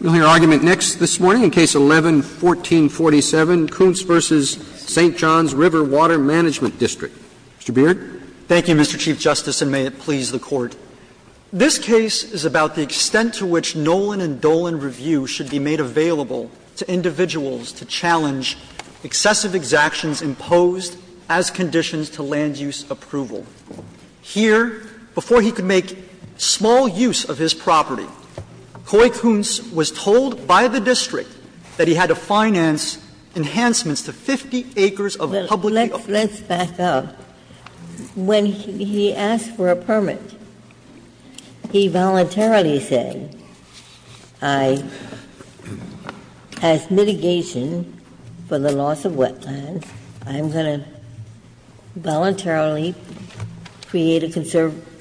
We'll hear argument next this morning in Case 11-1447, Koontz v. St. Johns River Water Management District. Mr. Beard. Thank you, Mr. Chief Justice, and may it please the Court. This case is about the extent to which Nolan and Dolan review should be made available to individuals to challenge excessive exactions imposed as conditions to land use approval. Here, before he could make small use of his property, Coy Koontz was told by the district that he had to finance enhancements to 50 acres of publicly offered land. Let's back up. When he asked for a permit, he voluntarily said, I, as mitigation for the loss of wetlands, I'm going to voluntarily create a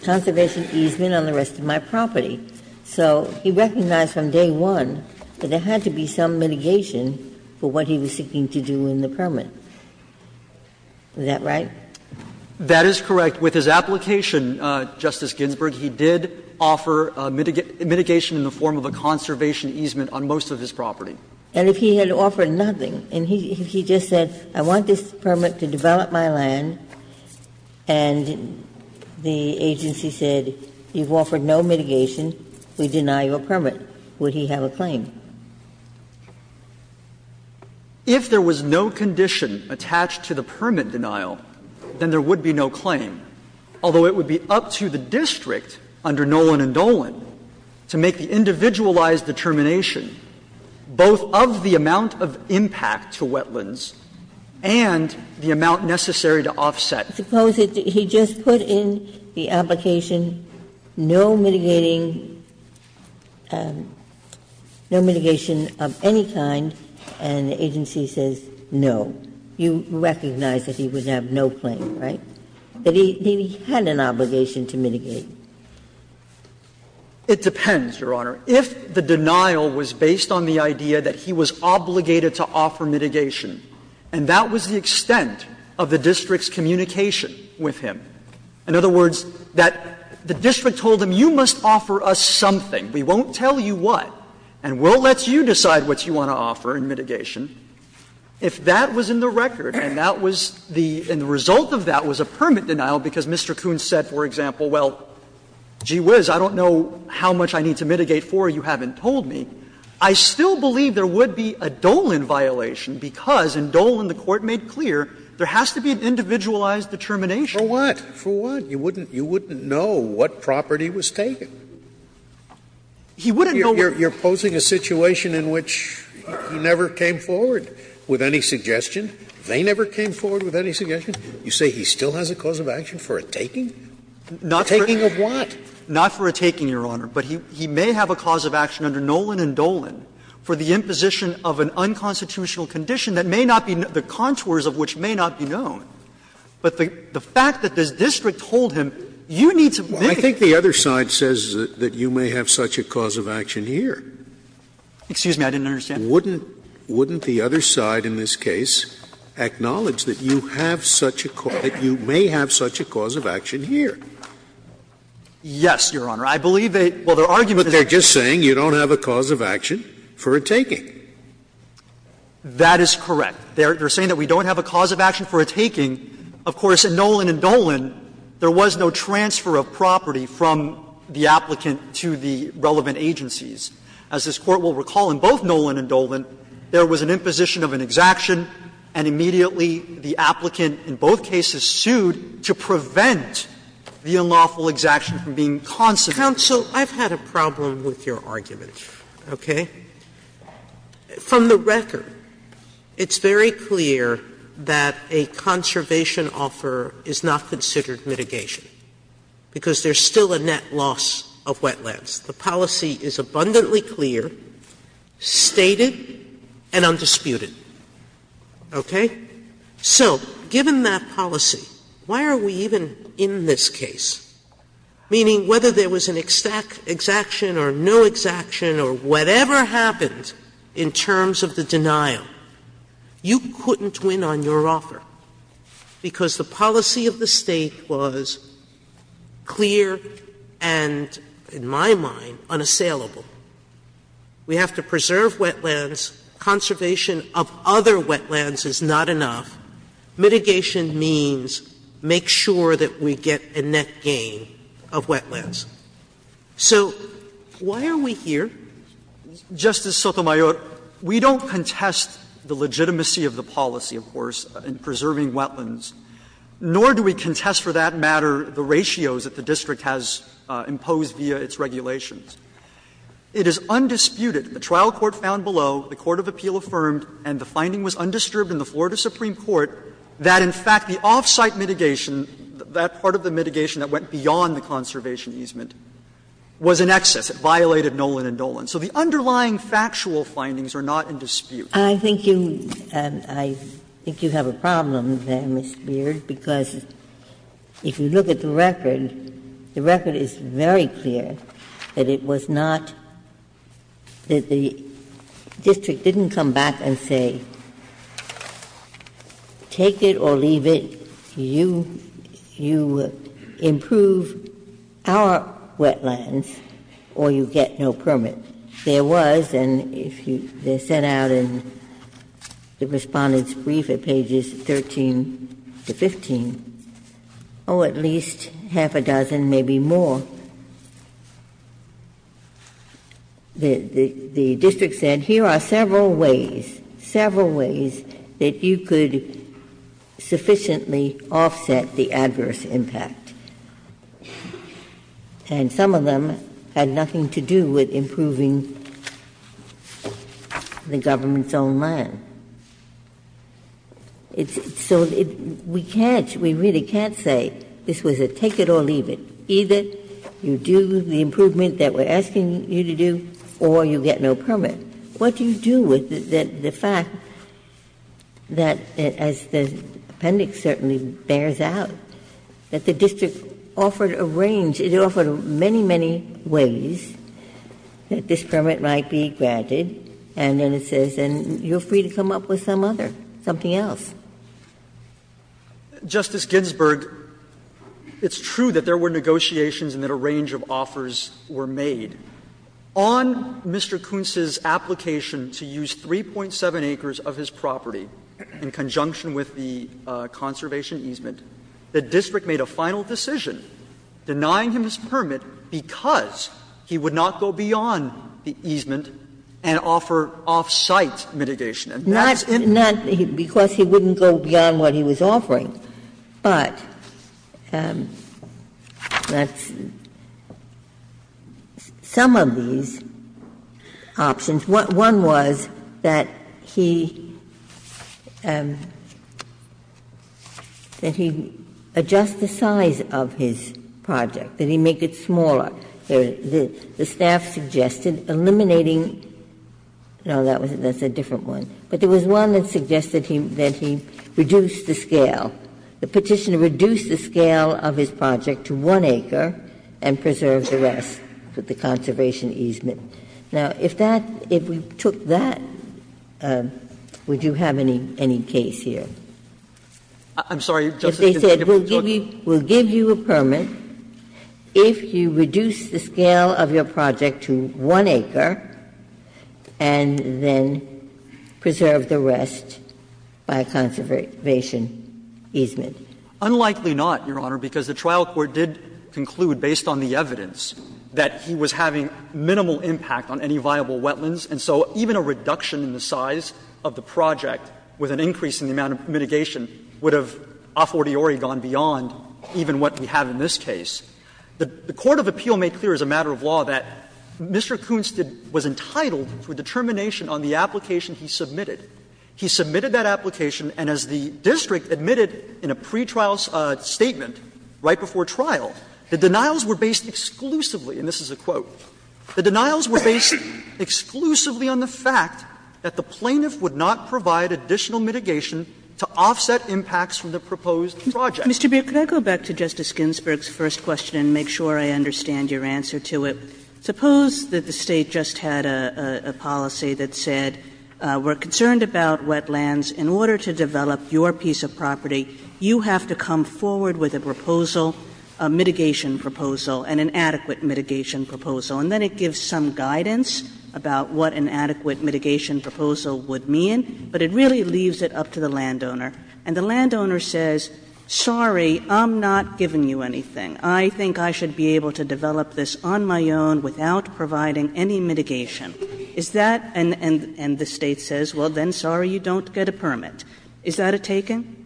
conservation easement on the rest of my property. So he recognized from day one that there had to be some mitigation for what he was seeking to do in the permit. Is that right? That is correct. With his application, Justice Ginsburg, he did offer mitigation in the form of a conservation easement on most of his property. And if he had offered nothing, and he just said, I want this permit to develop my land, and the agency said, you've offered no mitigation, we deny your permit, would he have a claim? If there was no condition attached to the permit denial, then there would be no claim. Although it would be up to the district under Nolan and Dolan to make the individualized determination, both of the amount of impact to wetlands and the amount necessary to offset. Suppose he just put in the application, no mitigating, no mitigation of any kind, and the agency says no. You recognize that he would have no claim, right? It depends, Your Honor. If the denial was based on the idea that he was obligated to offer mitigation, and that was the extent of the district's communication with him, in other words, that the district told him, you must offer us something, we won't tell you what, and we'll let you decide what you want to offer in mitigation, if that was in the record and that was the result of that was a permit denial because Mr. Coons said, for example, well, gee whiz, I don't know how much I need to mitigate for, you haven't told me. I still believe there would be a Dolan violation because in Dolan, the Court made clear, there has to be an individualized determination. For what? For what? You wouldn't know what property was taken. He wouldn't know what property was taken. You're posing a situation in which he never came forward with any suggestion. They never came forward with any suggestion. You say he still has a cause of action for a taking? A taking of what? Not for a taking, Your Honor, but he may have a cause of action under Nolan and Dolan for the imposition of an unconstitutional condition that may not be the contours of which may not be known. But the fact that this district told him, you need to mitigate. I think the other side says that you may have such a cause of action here. Excuse me, I didn't understand. Wouldn't the other side in this case acknowledge that you have such a cause, that you have such a cause here? Yes, Your Honor. I believe they argued that they're just saying you don't have a cause of action for a taking. That is correct. They're saying that we don't have a cause of action for a taking. Of course, in Nolan and Dolan, there was no transfer of property from the applicant to the relevant agencies. As this Court will recall, in both Nolan and Dolan, there was an imposition of an exaction, and immediately the applicant in both cases sued to prevent the unlawful exaction from being considered. Sotomayor, I've had a problem with your argument, okay? From the record, it's very clear that a conservation offer is not considered mitigation, because there's still a net loss of wetlands. The policy is abundantly clear, stated, and undisputed, okay? So, given that policy, why are we even in this case? Meaning, whether there was an exaction or no exaction or whatever happened in terms of the denial, you couldn't win on your offer, because the policy of the State was clear and, in my mind, unassailable. We have to preserve wetlands. Conservation of other wetlands is not enough. Mitigation means make sure that we get a net gain of wetlands. So why are we here? Waxman. Justice Sotomayor, we don't contest the legitimacy of the policy, of course, in preserving wetlands. Nor do we contest, for that matter, the ratios that the district has imposed via its regulations. It is undisputed, the trial court found below, the court of appeal affirmed, and the finding was undisturbed in the Florida Supreme Court, that in fact the off-site mitigation, that part of the mitigation that went beyond the conservation easement, was in excess. It violated Nolan and Dolan. So the underlying factual findings are not in dispute. Ginsburg. I think you have a problem there, Mr. Beard, because if you look at the record, the record is very clear that it was not that the district didn't come back and say, take it or leave it, you improve our wetlands or you get no permit. There was, and if you set out in the Respondent's brief at pages 13 to 15, oh, at least half a dozen, maybe more. The district said, here are several ways, several ways that you could sufficiently offset the adverse impact. And some of them had nothing to do with improving the government's own land. So we can't, we really can't say this was a take it or leave it. Either you do the improvement that we're asking you to do or you get no permit. What do you do with the fact that, as the appendix certainly bears out, that the district offered a range, it offered many, many ways that this permit might be granted, and then it says you're free to come up with some other, something else. Beard. Justice Ginsburg, it's true that there were negotiations and that a range of offers were made. On Mr. Kuntz's application to use 3.7 acres of his property in conjunction with the conservation easement, the district made a final decision denying him his permit because he would not go beyond the easement and offer off-site mitigation. Ginsburg. Not because he wouldn't go beyond what he was offering, but that's some of these options. One was that he, that he adjust the size of his project, that he make it smaller. The staff suggested eliminating, no, that's a different one. But there was one that suggested that he reduce the scale. The Petitioner reduced the scale of his project to 1 acre and preserved the rest with the conservation easement. Now, if that, if we took that, would you have any case here? I'm sorry, Justice Ginsburg. If they said we'll give you a permit, if you reduce the scale of your project to 1 acre and then preserve the rest by a conservation easement? Unlikely not, Your Honor, because the trial court did conclude, based on the evidence, that he was having minimal impact on any viable wetlands. And so even a reduction in the size of the project with an increase in the amount of mitigation would have a fortiori gone beyond even what we have in this case. The court of appeal made clear as a matter of law that Mr. Kunst was entitled to a determination on the application he submitted. He submitted that application, and as the district admitted in a pretrial statement right before trial, the denials were based exclusively, and this is a quote, the denials were based exclusively on the fact that the plaintiff would not provide additional mitigation to offset impacts from the proposed project. Mr. Beer, could I go back to Justice Ginsburg's first question and make sure I understand your answer to it? Suppose that the State just had a policy that said we're concerned about wetlands. In order to develop your piece of property, you have to come forward with a proposal, a mitigation proposal, and an adequate mitigation proposal. And then it gives some guidance about what an adequate mitigation proposal would mean, but it really leaves it up to the landowner. And the landowner says, sorry, I'm not giving you anything. I think I should be able to develop this on my own without providing any mitigation. Is that and the State says, well, then, sorry, you don't get a permit. Is that a taking?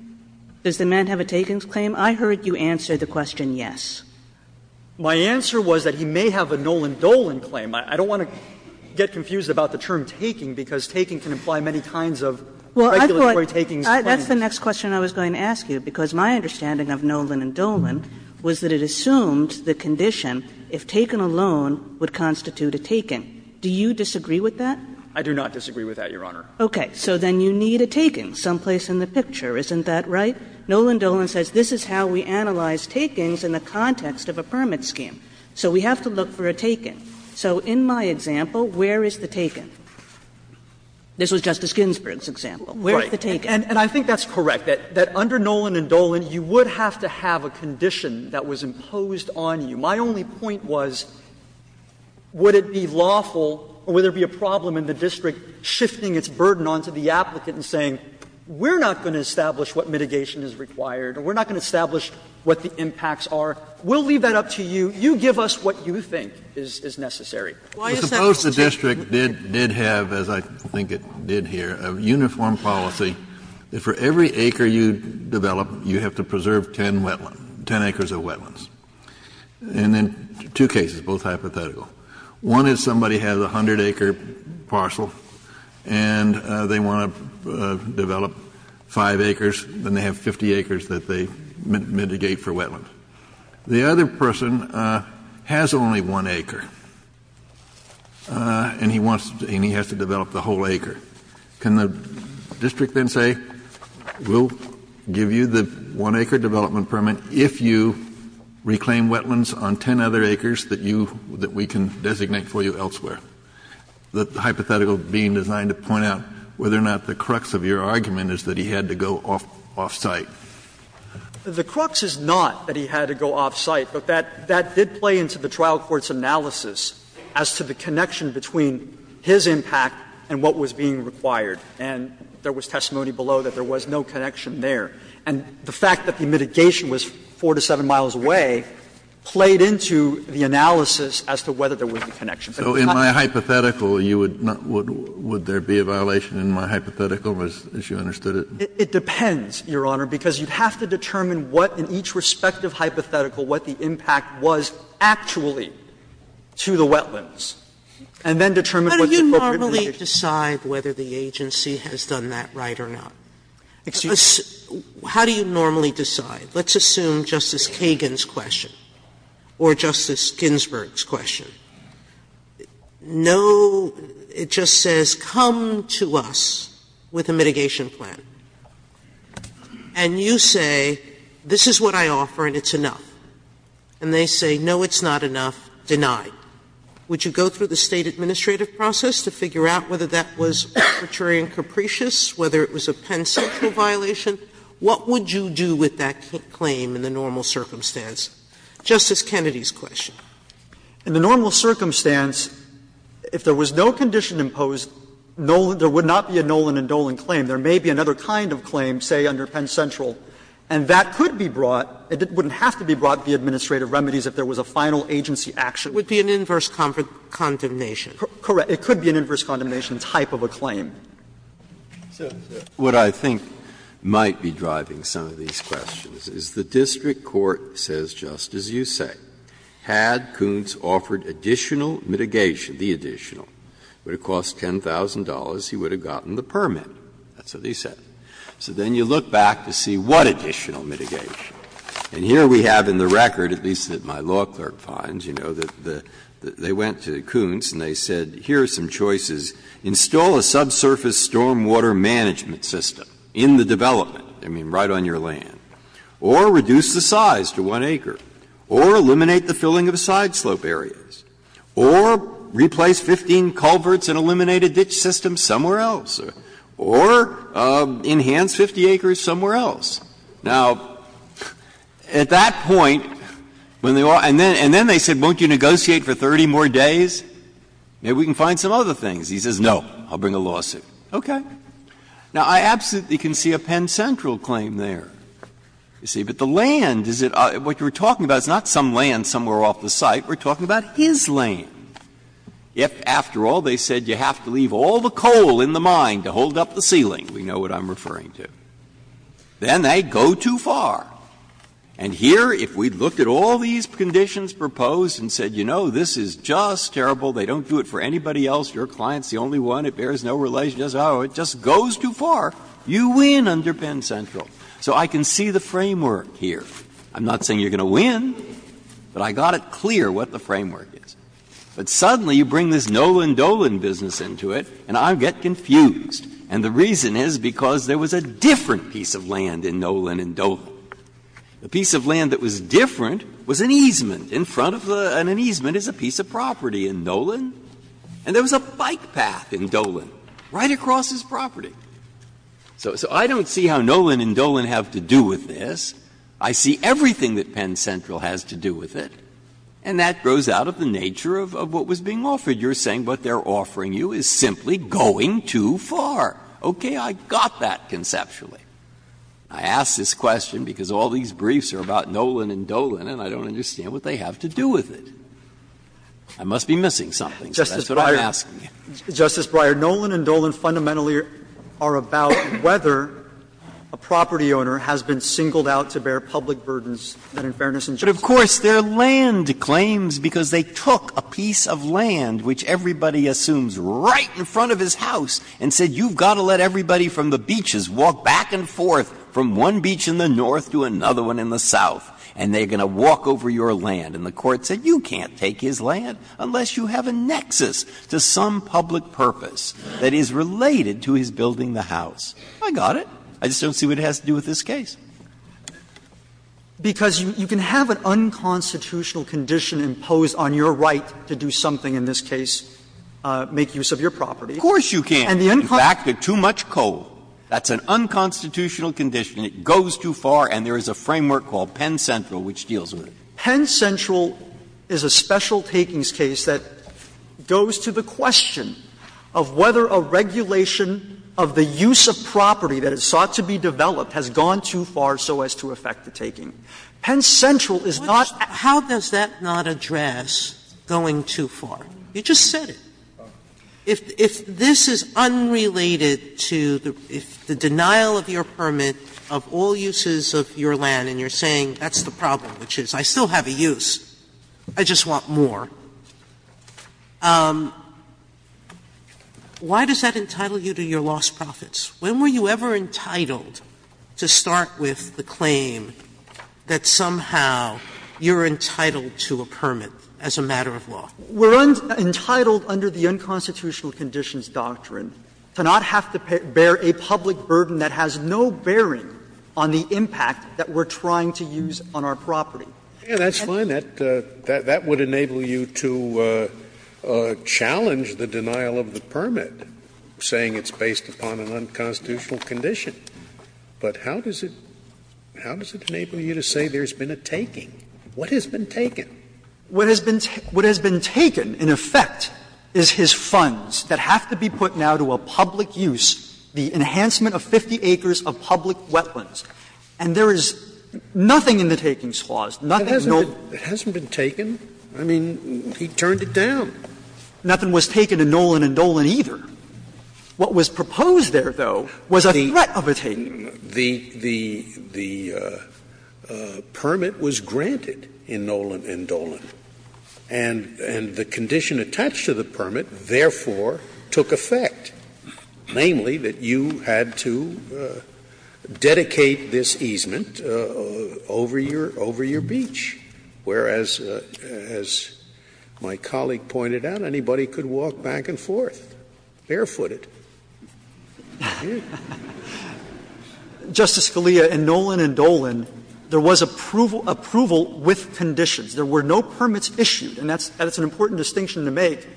Does the man have a takings claim? I heard you answer the question yes. My answer was that he may have a Nolan Dolan claim. I don't want to get confused about the term taking, because taking can imply many kinds of regulatory takings claims. Kagan. And that's the next question I was going to ask you, because my understanding of Nolan and Dolan was that it assumed the condition, if taken alone, would constitute a taking. Do you disagree with that? I do not disagree with that, Your Honor. Okay. So then you need a taking someplace in the picture, isn't that right? Nolan Dolan says this is how we analyze takings in the context of a permit scheme. So we have to look for a taking. This was Justice Ginsburg's example. Where is the taking? And I think that's correct, that under Nolan and Dolan, you would have to have a condition that was imposed on you. My only point was, would it be lawful or would there be a problem in the district shifting its burden onto the applicant and saying, we're not going to establish what mitigation is required, or we're not going to establish what the impacts are. We'll leave that up to you. You give us what you think is necessary. Suppose the district did have, as I think it did here, a uniform policy that for every acre you develop, you have to preserve 10 wetlands, 10 acres of wetlands. And then two cases, both hypothetical. One is somebody has a 100-acre parcel and they want to develop 5 acres, then they have 50 acres that they mitigate for wetlands. The other person has only 1 acre and he wants to develop the whole acre. Can the district then say, we'll give you the 1-acre development permit if you reclaim wetlands on 10 other acres that you, that we can designate for you elsewhere? The hypothetical being designed to point out whether or not the crux of your argument is that he had to go off-site. The crux is not that he had to go off-site, but that did play into the trial court's analysis as to the connection between his impact and what was being required. And there was testimony below that there was no connection there. And the fact that the mitigation was 4 to 7 miles away played into the analysis as to whether there was a connection. Kennedy, so in my hypothetical, you would not, would there be a violation in my hypothetical as you understood it? It depends, Your Honor, because you'd have to determine what in each respective hypothetical what the impact was actually to the wetlands, and then determine Sotomayor, do you normally decide whether the agency has done that right or not? How do you normally decide? Let's assume Justice Kagan's question or Justice Ginsburg's question. No, it just says, come to us with a mitigation plan. And you say, this is what I offer and it's enough. And they say, no, it's not enough, denied. Would you go through the State administrative process to figure out whether that was arbitrary and capricious, whether it was a pen-sexual violation? What would you do with that claim in the normal circumstance? Justice Kennedy's question. In the normal circumstance, if there was no condition imposed, there would not be a Nolan and Dolan claim. There may be another kind of claim, say, under pen-sexual, and that could be brought – it wouldn't have to be brought to the administrative remedies if there was a final agency action. Sotomayor, it would be an inverse condemnation. Correct. It could be an inverse condemnation type of a claim. Breyer, what I think might be driving some of these questions is the district court says, just as you say, had Kuntz offered additional mitigation, the additional, it would have cost $10,000, he would have gotten the permit. That's what he said. So then you look back to see what additional mitigation. And here we have in the record, at least that my law clerk finds, you know, that they went to Kuntz and they said, here are some choices. Install a subsurface stormwater management system in the development, I mean, right on your land, or reduce the size to one acre, or eliminate the filling of sideslope areas, or replace 15 culverts and eliminate a ditch system somewhere else, or eliminate a ditch system somewhere else, or enhance 50 acres somewhere else. Now, at that point, when they all, and then they said, won't you negotiate for 30 more days, maybe we can find some other things. He says, no, I'll bring a lawsuit. Okay. Now, I absolutely can see a Penn Central claim there. You see, but the land, is it, what you were talking about is not some land somewhere off the site. We're talking about his land. If, after all, they said you have to leave all the coal in the mine to hold up the ceiling, we know what I'm referring to, then they go too far. And here, if we looked at all these conditions proposed and said, you know, this is just terrible, they don't do it for anybody else, your client is the only one, it bears no relation to us, oh, it just goes too far, you win under Penn Central. So I can see the framework here. I'm not saying you're going to win, but I got it clear what the framework is. But suddenly, you bring this Nolan Dolan business into it, and I get confused. And the reason is because there was a different piece of land in Nolan and Dolan. The piece of land that was different was an easement in front of the — and an easement is a piece of property in Nolan. And there was a bike path in Dolan, right across his property. So I don't see how Nolan and Dolan have to do with this. I see everything that Penn Central has to do with it. And that goes out of the nature of what was being offered. You're saying what they're offering you is simply going too far. Okay, I got that conceptually. I ask this question because all these briefs are about Nolan and Dolan, and I don't understand what they have to do with it. I must be missing something, so that's what I'm asking. Justice Breyer, Nolan and Dolan fundamentally are about whether a property owner has been singled out to bear public burdens that, in fairness, in general, they have not. And the court said, well, you can't take his land, because they took a piece of land, which everybody assumes right in front of his house, and said you've got to let everybody from the beaches walk back and forth from one beach in the north to another one in the south, and they're going to walk over your land. And the court said you can't take his land unless you have a nexus to some public purpose that is related to his building the house. I got it. I just don't see what it has to do with this case. Because you can have an unconstitutional condition imposed on your right to do something in this case, make use of your property. Of course you can. In fact, they're too much coal. That's an unconstitutional condition. It goes too far, and there is a framework called Penn Central which deals with it. Penn Central is a special takings case that goes to the question of whether a regulation of the use of property that is sought to be developed has gone too far so as to affect the taking. Penn Central is not the case. Sotomayor How does that not address going too far? You just said it. If this is unrelated to the denial of your permit of all uses of your land, and you're saying, well, I still have a use, I just want more, why does that entitle you to your lost profits? When were you ever entitled to start with the claim that somehow you're entitled to a permit as a matter of law? We're entitled under the unconstitutional conditions doctrine to not have to bear a public burden that has no bearing on the impact that we're trying to use on our property. Scalia That's fine. That would enable you to challenge the denial of the permit, saying it's based upon an unconstitutional condition. But how does it enable you to say there's been a taking? What has been taken? What has been taken, in effect, is his funds that have to be put now to a public use, the enhancement of 50 acres of public wetlands. And there is nothing in the Takings Clause, nothing at all. Scalia It hasn't been taken. I mean, he turned it down. Gershengorn Nothing was taken in Nolan and Dolan, either. What was proposed there, though, was a threat of a taking. Scalia The permit was granted in Nolan and Dolan. And the condition attached to the permit, therefore, took effect, namely, that you had to dedicate this easement over your beach, whereas, as my colleague pointed out, anybody could walk back and forth, barefooted. Gershengorn Justice Scalia, in Nolan and Dolan, there was approval with conditions. There were no permits issued. And that's an important distinction to make.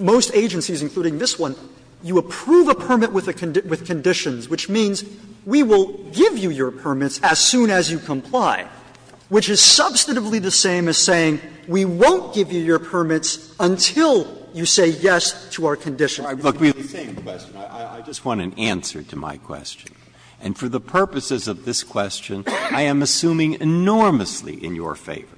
Most agencies, including this one, you approve a permit with conditions, which means we will give you your permits as soon as you comply, which is substantively the same as saying we won't give you your permits until you say yes to our conditions. Breyer Look, we have the same question. I just want an answer to my question. And for the purposes of this question, I am assuming enormously in your favor.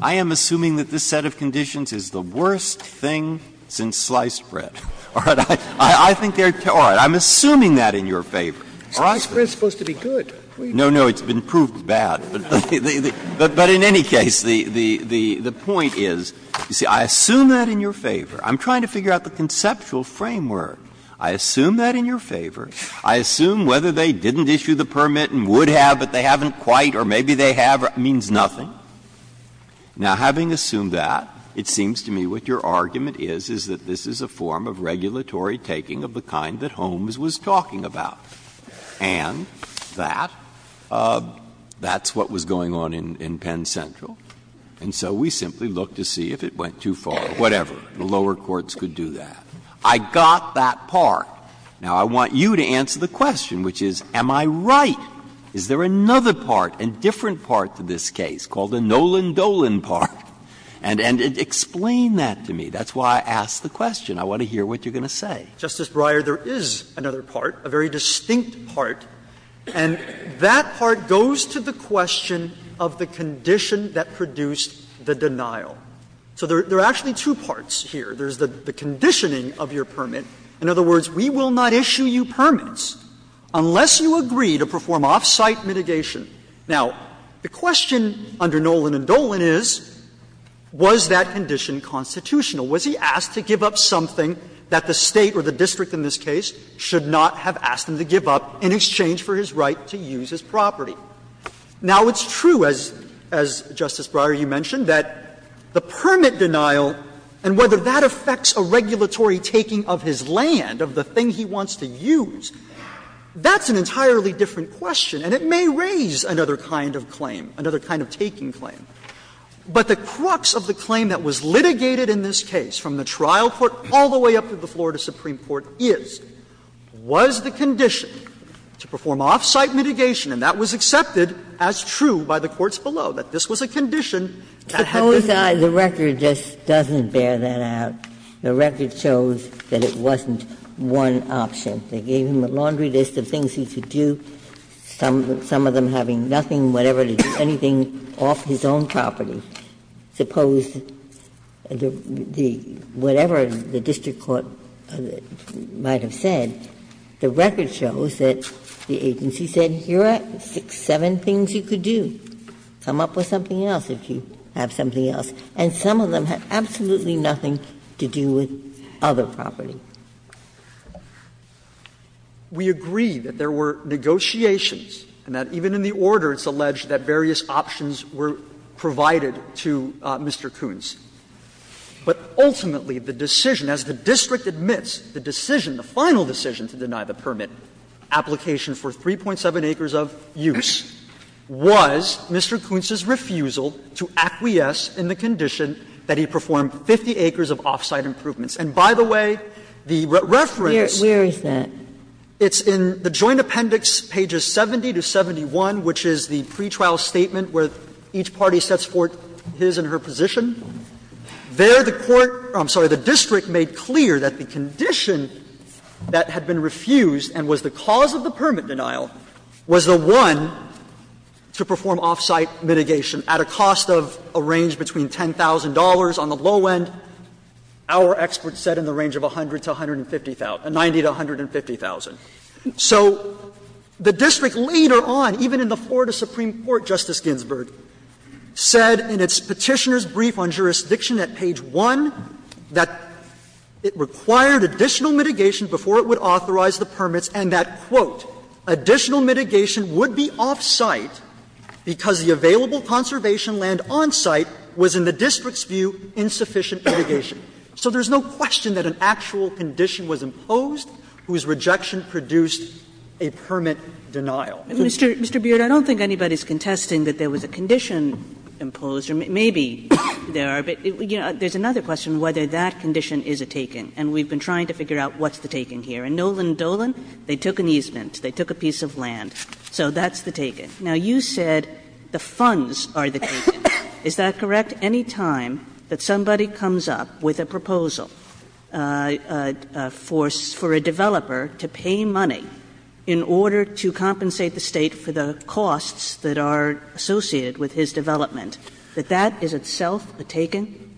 I am assuming that this set of conditions is the worst thing since sliced bread. All right? I think they're too – all right. I'm assuming that in your favor. Scalia Sliced bread is supposed to be good. Breyer No, no. It's been proved bad. But in any case, the point is, you see, I assume that in your favor. I'm trying to figure out the conceptual framework. I assume that in your favor. I assume whether they didn't issue the permit and would have, but they haven't quite, or maybe they have, means nothing. Now, having assumed that, it seems to me what your argument is, is that this is a form of regulatory taking of the kind that Holmes was talking about. And that, that's what was going on in Penn Central. And so we simply look to see if it went too far, whatever. The lower courts could do that. I got that part. Now, I want you to answer the question, which is, am I right? Is there another part, a different part to this case, called the Nolan Dolan part? And explain that to me. That's why I asked the question. I want to hear what you're going to say. Justice Breyer, there is another part, a very distinct part, and that part goes to the question of the condition that produced the denial. So there are actually two parts here. There's the conditioning of your permit. In other words, we will not issue you permits unless you agree to perform off-site mitigation. Now, the question under Nolan and Dolan is, was that condition constitutional? Was he asked to give up something that the State or the district in this case should not have asked him to give up in exchange for his right to use his property? Now, it's true, as Justice Breyer, you mentioned, that the permit denial and whether that affects a regulatory taking of his land, of the thing he wants to use, that's an entirely different question, and it may raise another kind of claim, another kind of taking claim. But the crux of the claim that was litigated in this case from the trial court all the way up to the Florida Supreme Court is, was the condition to perform off-site mitigation, and that was accepted as true by the courts below, that this was a condition that had to be used. Ginsburg-Miller The record just doesn't bear that out. The record shows that it wasn't one option. They gave him a laundry list of things he could do, some of them having nothing, whatever, anything off his own property. Suppose whatever the district court might have said, the record shows that the agency said, here are seven things you could do, come up with something else if you have something else, and some of them had absolutely nothing to do with other property. Waxman We agree that there were negotiations and that even in the order it's alleged that various options were provided to Mr. Koontz. But ultimately the decision, as the district admits, the decision, the final decision to deny the permit application for 3.7 acres of use was Mr. Koontz's refusal to acquiesce in the condition that he perform 50 acres of off-site improvements. And by the way, the reference. Ginsburg-Miller Where is that? Waxman It's in the Joint Appendix, pages 70 to 71, which is the pretrial statement where each party sets forth his and her position. There the court or, I'm sorry, the district made clear that the condition that had been refused and was the cause of the permit denial was the one to perform off-site mitigation at a cost of a range between $10,000 on the low end, our experts said in the range of $100,000 to $150,000, $90,000 to $150,000. So the district later on, even in the Florida Supreme Court, Justice Ginsburg, said in its Petitioner's Brief on Jurisdiction at page 1 that it required additional mitigation before it would authorize the permits and that, quote, additional mitigation would be off-site because the available conservation land on site was, in the district's view, insufficient mitigation. So there's no question that an actual condition was imposed whose rejection produced a permit denial. Kagan Mr. Beard, I don't think anybody is contesting that there was a condition imposed, or maybe there are, but there's another question whether that condition is a taking. And we've been trying to figure out what's the taking here. Nolan Dolan, they took an easement, they took a piece of land, so that's the taking. Now, you said the funds are the taking. Is that correct? Any time that somebody comes up with a proposal for a developer to pay money in order to compensate the State for the costs that are associated with his development, that that is itself a taking?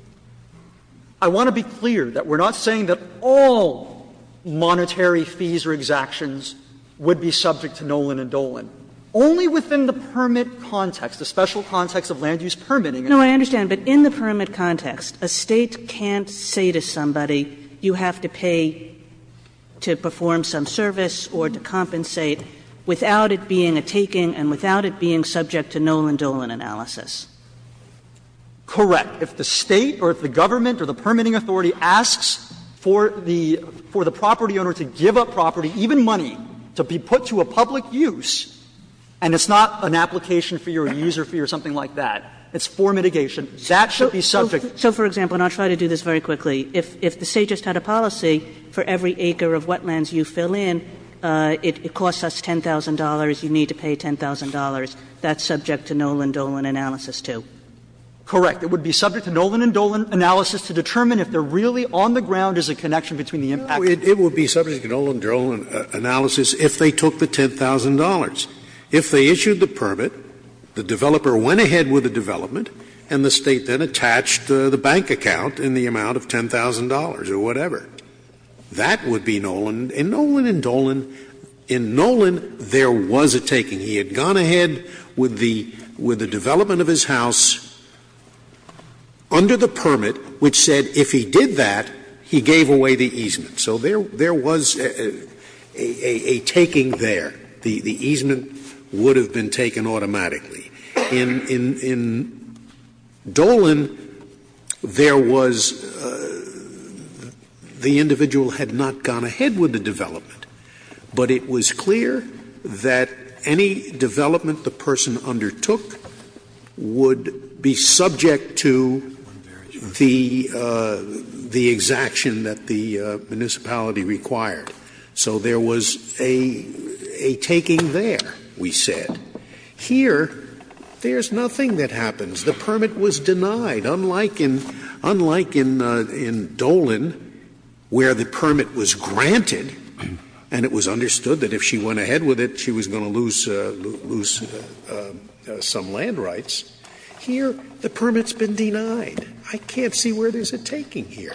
I want to be clear that we're not saying that all monetary fees or exactions would be subject to Nolan and Dolan. Only within the permit context, the special context of land use permitting. Kagan No, I understand. But in the permit context, a State can't say to somebody, you have to pay to perform some service or to compensate without it being a taking and without it being subject to Nolan Dolan analysis. Correct. If the State or if the government or the permitting authority asks for the property owner to give up property, even money, to be put to a public use, and it's not an application fee or a user fee or something like that, it's for mitigation, that should be subject to. So, for example, and I'll try to do this very quickly, if the State just had a policy for every acre of wetlands you fill in, it costs us $10,000, you need to pay $10,000, that's subject to Nolan Dolan analysis, too? Correct. It would be subject to Nolan and Dolan analysis to determine if they're really on the ground as a connection between the impact of the permit. Scalia It would be subject to Nolan Dolan analysis if they took the $10,000. If they issued the permit, the developer went ahead with the development, and the State then attached the bank account in the amount of $10,000 or whatever. That would be Nolan. In Nolan and Dolan, in Nolan there was a taking. He had gone ahead with the development of his house under the permit, which said if he did that, he gave away the easement. So there was a taking there. The easement would have been taken automatically. In Dolan, there was the individual had not gone ahead with the development, but it was clear that any development the person undertook would be subject to the exaction that the municipality required. So there was a taking there, we said. Here, there's nothing that happens. The permit was denied, unlike in Dolan, where the permit was granted. And it was understood that if she went ahead with it, she was going to lose some land rights. Here, the permit's been denied. I can't see where there's a taking here.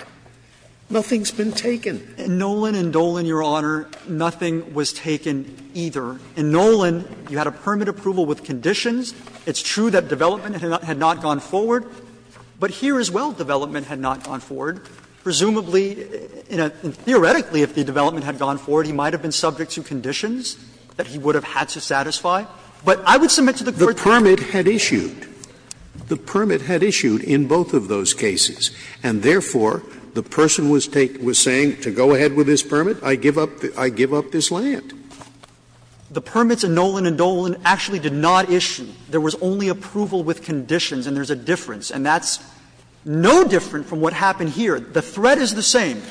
Nothing's been taken. Neimann Nolan and Dolan, Your Honor, nothing was taken either. In Nolan, you had a permit approval with conditions. It's true that development had not gone forward. But here as well, development had not gone forward. Presumably, theoretically, if the development had gone forward, he might have been subject to conditions that he would have had to satisfy. But I would submit to the Court that the permit had issued. The permit had issued in both of those cases. And therefore, the person was saying to go ahead with this permit, I give up this land. The permits in Nolan and Dolan actually did not issue. There was only approval with conditions, and there's a difference. And that's no different from what happened here. The threat is the same.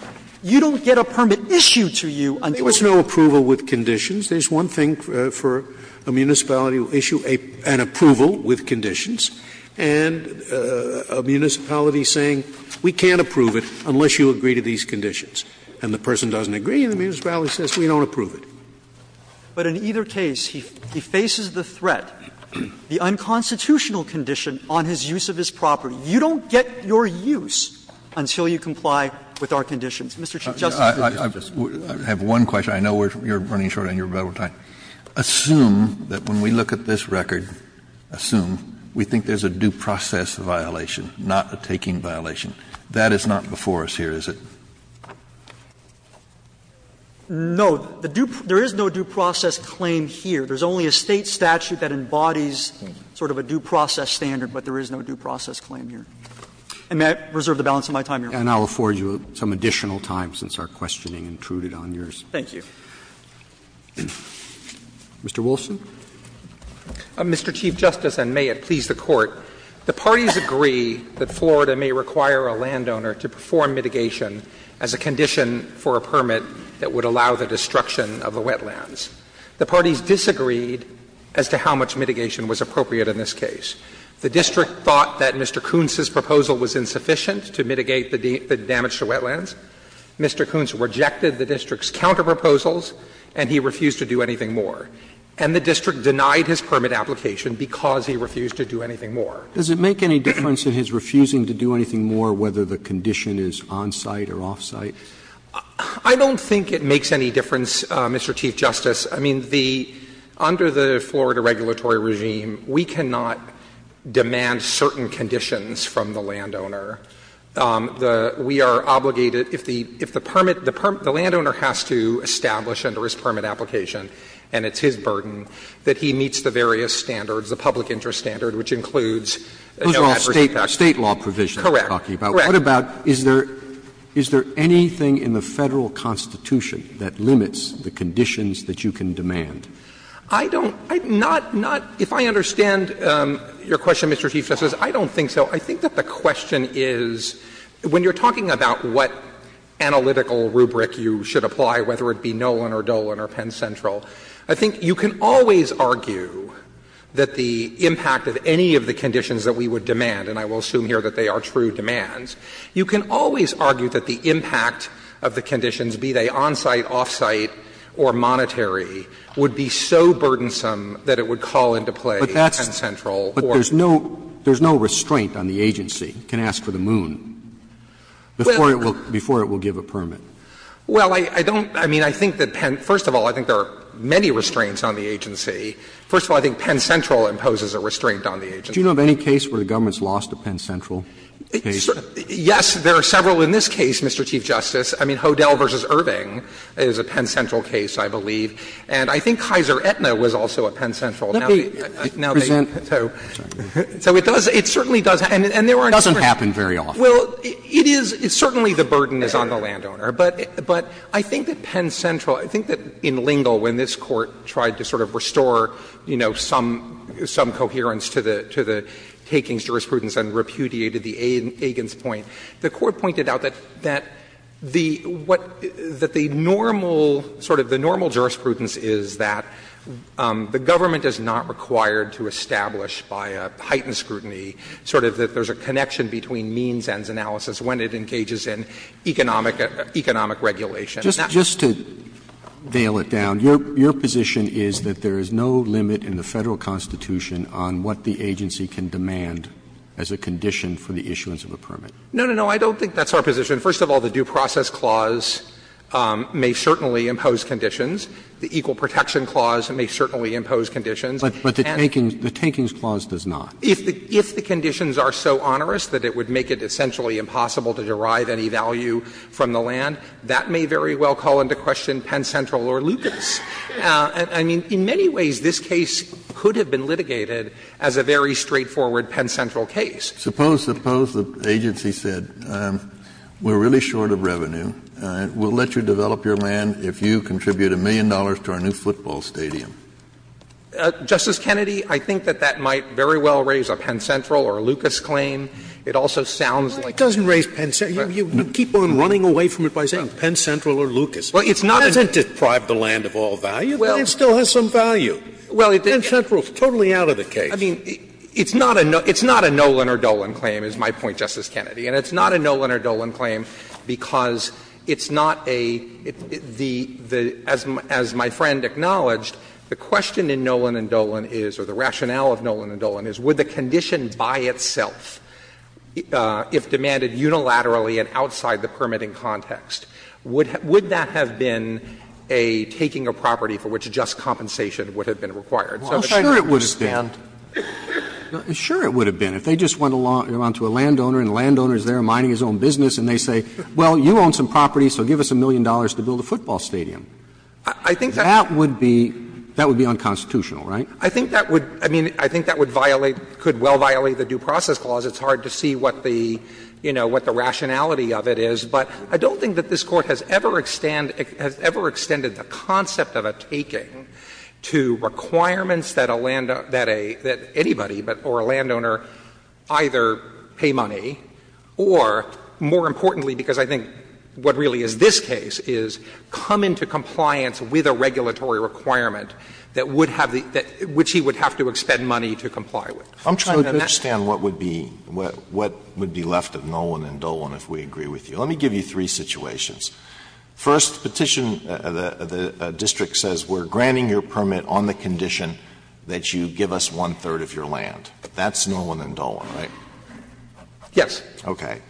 You don't get a permit issued to you until you approve it. Scalia, There was no approval with conditions. There's one thing for a municipality to issue, an approval with conditions. And a municipality saying, we can't approve it unless you agree to these conditions. And the person doesn't agree, and the municipality says, we don't approve it. Neimann Nolan But in either case, he faces the threat, the unconstitutional condition on his use of his property. You don't get your use until you comply with our conditions. Mr. Chief Justice, this is just one. Kennedy I have one question. I know you're running short on your rebuttal time. Assume that when we look at this record, assume we think there's a due process violation, not a taking violation. That is not before us here, is it? Neimann Nolan No. The due – there is no due process claim here. There's only a State statute that embodies sort of a due process standard, but there is no due process claim here. And may I reserve the balance of my time, Your Honor? Roberts And I'll afford you some additional time since our questioning intruded on yours. Neimann Nolan Thank you. Roberts Mr. Wilson. Wilson Mr. Chief Justice, and may it please the Court, the parties agree that Florida may require a landowner to perform mitigation as a condition for a permit that would allow the destruction of the wetlands. The parties disagreed as to how much mitigation was appropriate in this case. The district thought that Mr. Kuntz's proposal was insufficient to mitigate the damage to wetlands. Mr. Kuntz rejected the district's counterproposals, and he refused to do anything more. And the district denied his permit application because he refused to do anything more. Roberts Does it make any difference in his refusing to do anything more whether the condition is on-site or off-site? Wilson I don't think it makes any difference, Mr. Chief Justice. I mean, the under the Florida regulatory regime, we cannot demand certain conditions from the landowner. We are obligated, if the permit, the landowner has to establish under his permit application, and it's his burden, that he meets the various standards, the public interest standard, which includes no adverse impact. Wilson Correct. Roberts What about, is there anything in the Federal constitution that limits the conditions that you can demand? Wilson I don't, not, not, if I understand your question, Mr. Chief Justice, I don't think so. I think that the question is, when you are talking about what analytical rubric you should apply, whether it be Nolan or Dolan or Penn Central, I think you can always argue that the impact of any of the conditions that we would demand, and I will assume here that they are true demands, you can always argue that the impact of the conditions, be they on-site, off-site, or monetary, would be so burdensome that it would call into play Penn Central or Dolan. Roberts But there's no, there's no restraint on the agency can ask for the moon before it will, before it will give a permit. Wilson Well, I don't, I mean, I think that Penn, first of all, I think there are many restraints on the agency. Roberts Do you know of any case where the government's lost a Penn Central case? Wilson Yes, there are several in this case, Mr. Chief Justice. I mean, Hodel v. Irving is a Penn Central case, I believe, and I think Kaiser Aetna was also a Penn Central. Now they, now they present, so, so it does, it certainly does, and, and there are different. Roberts It doesn't happen very often. Wilson Well, it is, it's certainly the burden is on the landowner, but, but I think that, you know, some, some coherence to the, to the takings jurisprudence and repudiated the Agins point. The Court pointed out that, that the, what, that the normal, sort of the normal jurisprudence is that the government is not required to establish by a heightened scrutiny sort of that there's a connection between means and analysis when it engages in economic, economic regulation. Roberts Just, just to nail it down, your, your position is that there is no limit in the Federal Constitution on what the agency can demand as a condition for the issuance of a permit. Wilson No, no, no. I don't think that's our position. First of all, the Due Process Clause may certainly impose conditions. The Equal Protection Clause may certainly impose conditions. And. Roberts But, but the takings, the takings clause does not. Wilson If the, if the conditions are so onerous that it would make it essentially impossible to derive any value from the land, that may very well call into question Penn Central or Lucas. I mean, in many ways, this case could have been litigated as a very straightforward Penn Central case. Kennedy Suppose, suppose the agency said, we're really short of revenue. We'll let you develop your land if you contribute a million dollars to our new football stadium. Wilson Justice Kennedy, I think that that might very well raise a Penn Central or a Lucas claim. It also sounds like. Scalia It doesn't raise Penn Central. You keep on running away from it by saying Penn Central or Lucas. It doesn't deprive the land of all value, but it still has some value. Penn Central is totally out of the case. Wilson I mean, it's not a Nolan or Dolan claim, is my point, Justice Kennedy. And it's not a Nolan or Dolan claim because it's not a, the, as my friend acknowledged, the question in Nolan and Dolan is, or the rationale of Nolan and Dolan is, would the condition by itself, if demanded unilaterally and outside the permitting context, would that have been a taking of property for which just compensation would have been required? Roberts Well, sure it would have been. Sure it would have been. If they just went along to a landowner and the landowner is there minding his own business and they say, well, you own some property, so give us a million dollars to build a football stadium. That would be, that would be unconstitutional, right? I think that would, I mean, I think that would violate, could well violate the Due Process Clause. It's hard to see what the, you know, what the rationality of it is. But I don't think that this Court has ever extend, has ever extended the concept of a taking to requirements that a landowner, that a, that anybody, or a landowner either pay money or, more importantly, because I think what really is this case, is come into compliance with a regulatory requirement that would have the, which he would have to expend money to comply with. Alitoso I'm trying to understand what would be, what would be left of Nolan and Dolan if we agree with you. Let me give you three situations. First, petition, the district says we're granting your permit on the condition that you give us one-third of your land. That's Nolan and Dolan, right? Roberts Yes. Alitoso Okay.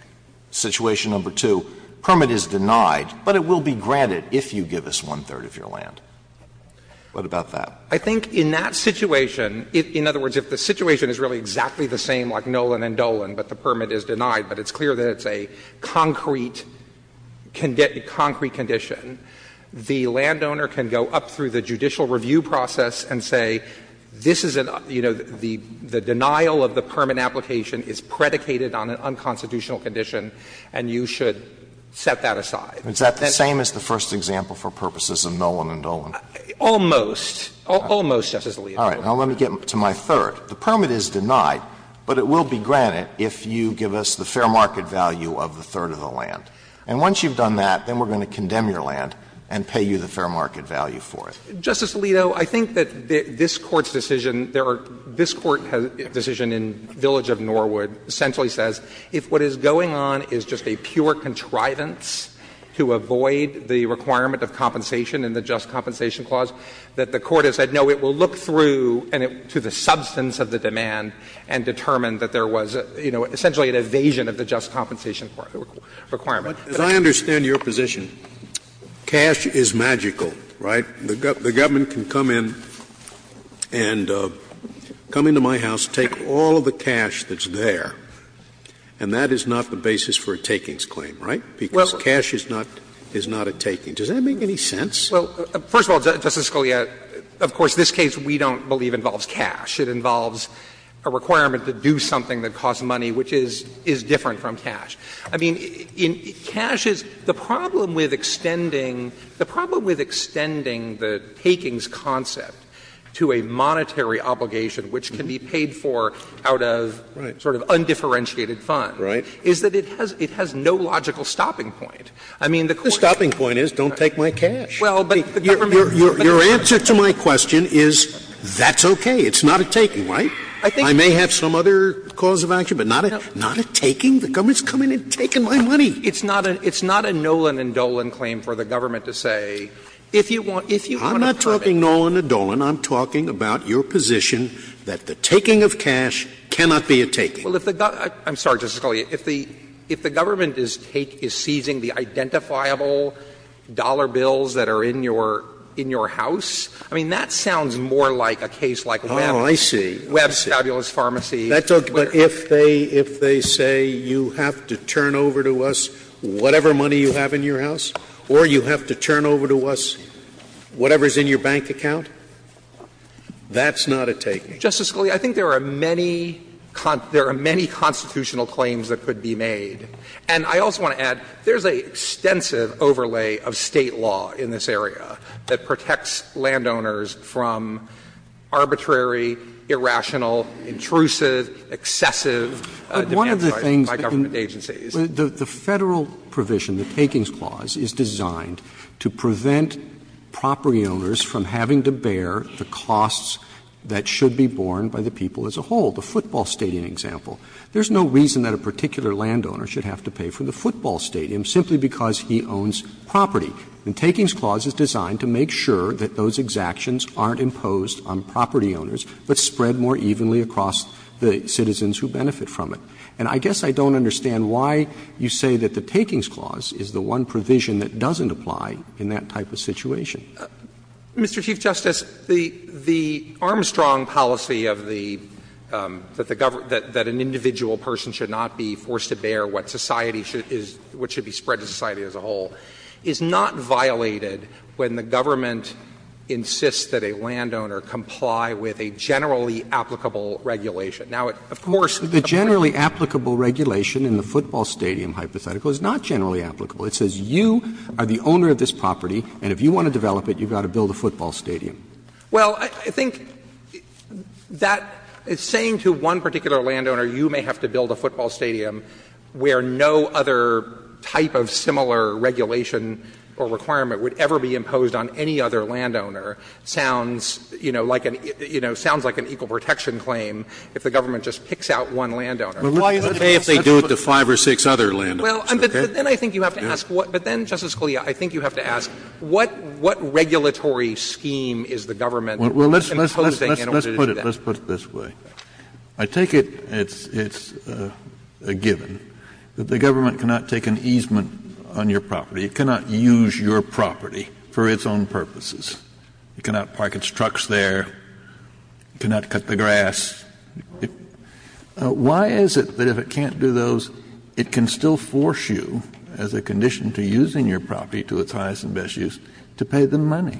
Situation number two, permit is denied, but it will be granted if you give us one-third of your land. What about that? Roberts I think in that situation, in other words, if the situation is really exactly the same like Nolan and Dolan, but the permit is denied, but it's clear that it's a concrete, concrete condition, the landowner can go up through the judicial review process and say this is an, you know, the denial of the permit application is predicated on an unconstitutional condition and you should set that aside. Alitoso Is that the same as the first example for purposes of Nolan and Dolan? Roberts Almost. Almost, Justice Alito. Alitoso All right. Now let me get to my third. The permit is denied, but it will be granted if you give us the fair market value of the third of the land. And once you've done that, then we're going to condemn your land and pay you the fair market value for it. Roberts Justice Alito, I think that this Court's decision, there are, this Court has a decision in Village of Norwood, essentially says if what is going on is just a pure contrivance to avoid the requirement of compensation in the Just Compensation Clause, that the Court has said no, it will look through to the substance of the demand and determine that there was, you know, essentially an evasion of the Just Compensation Requirement. Scalia As I understand your position, cash is magical, right? The government can come in and come into my house, take all of the cash that's there, and that is not the basis for a takings claim, right? Because cash is not a taking. Does that make any sense? Roberts Well, first of all, Justice Scalia, of course, this case we don't believe involves cash. It involves a requirement to do something that costs money, which is different from cash. I mean, cash is the problem with extending, the problem with extending the takings concept to a monetary obligation which can be paid for out of sort of undifferentiated funds is that it has no logical stopping point. I mean, the Court's point is don't take my cash. Scalia Your answer to my question is that's okay, it's not a taking, right? I may have some other cause of action, but not a taking? The government's come in and taken my money. Roberts It's not a Nolan and Dolan claim for the government to say, if you want a perfect case. Scalia I'm not talking Nolan and Dolan, I'm talking about your position that the taking of cash cannot be a taking. Roberts Well, if the government — I'm sorry, Justice Scalia, if the government is seizing the identifiable dollar bills that are in your house, I mean, that sounds Scalia Oh, I see. Scalia But if they say you have to turn over to us whatever money you have in your house or you have to turn over to us whatever is in your bank account, that's not a taking. Roberts Justice Scalia, I think there are many constitutional claims that could be made. And I also want to add, there's an extensive overlay of State law in this area that protects landowners from arbitrary, irrational, intrusive, excessive demands by government Roberts But one of the things — the Federal provision, the Takings Clause, is designed to prevent property owners from having to bear the costs that should be borne by the people as a whole, the football stadium example. There's no reason that a particular landowner should have to pay for the football stadium simply because he owns property. The Takings Clause is designed to make sure that those exactions aren't imposed on property owners, but spread more evenly across the citizens who benefit from it. And I guess I don't understand why you say that the Takings Clause is the one provision that doesn't apply in that type of situation. Mr. Chief Justice, the Armstrong policy of the — that an individual person should not be forced to bear what society should — what should be spread to society as a whole is not violated when the government insists that a landowner comply with a generally applicable regulation. Now, of course, the generally applicable regulation in the football stadium hypothetical is not generally applicable. It says you are the owner of this property, and if you want to develop it, you've got to build a football stadium. Well, I think that is saying to one particular landowner, you may have to build a football stadium where no other type of similar regulation or requirement would ever be imposed on any other landowner, sounds, you know, like an — you know, sounds like an equal protection claim if the government just picks out one landowner. But why is it okay if they do it to five or six other landowners? Well, but then I think you have to ask what — but then, Justice Scalia, I think you have to ask what — what regulatory scheme is the government imposing in order to do that? Well, let's — let's put it — let's put it this way. I take it it's — it's a given that the government cannot take an easement on your property. It cannot use your property for its own purposes. It cannot park its trucks there. It cannot cut the grass. Why is it that if it can't do those, it can still force you, as a condition to using your property to its highest and best use, to pay them money?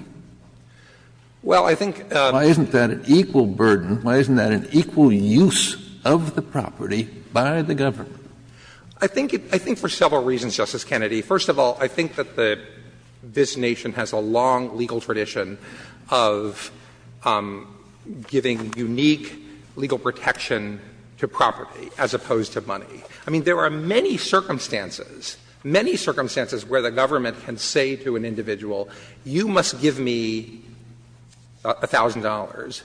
Well, I think — Why isn't that an equal burden? Why isn't that an equal use of the property by the government? I think it — I think for several reasons, Justice Kennedy. First of all, I think that the — this nation has a long legal tradition of giving unique legal protection to property as opposed to money. I mean, there are many circumstances, many circumstances where the government can say to an individual, you must give me $1,000,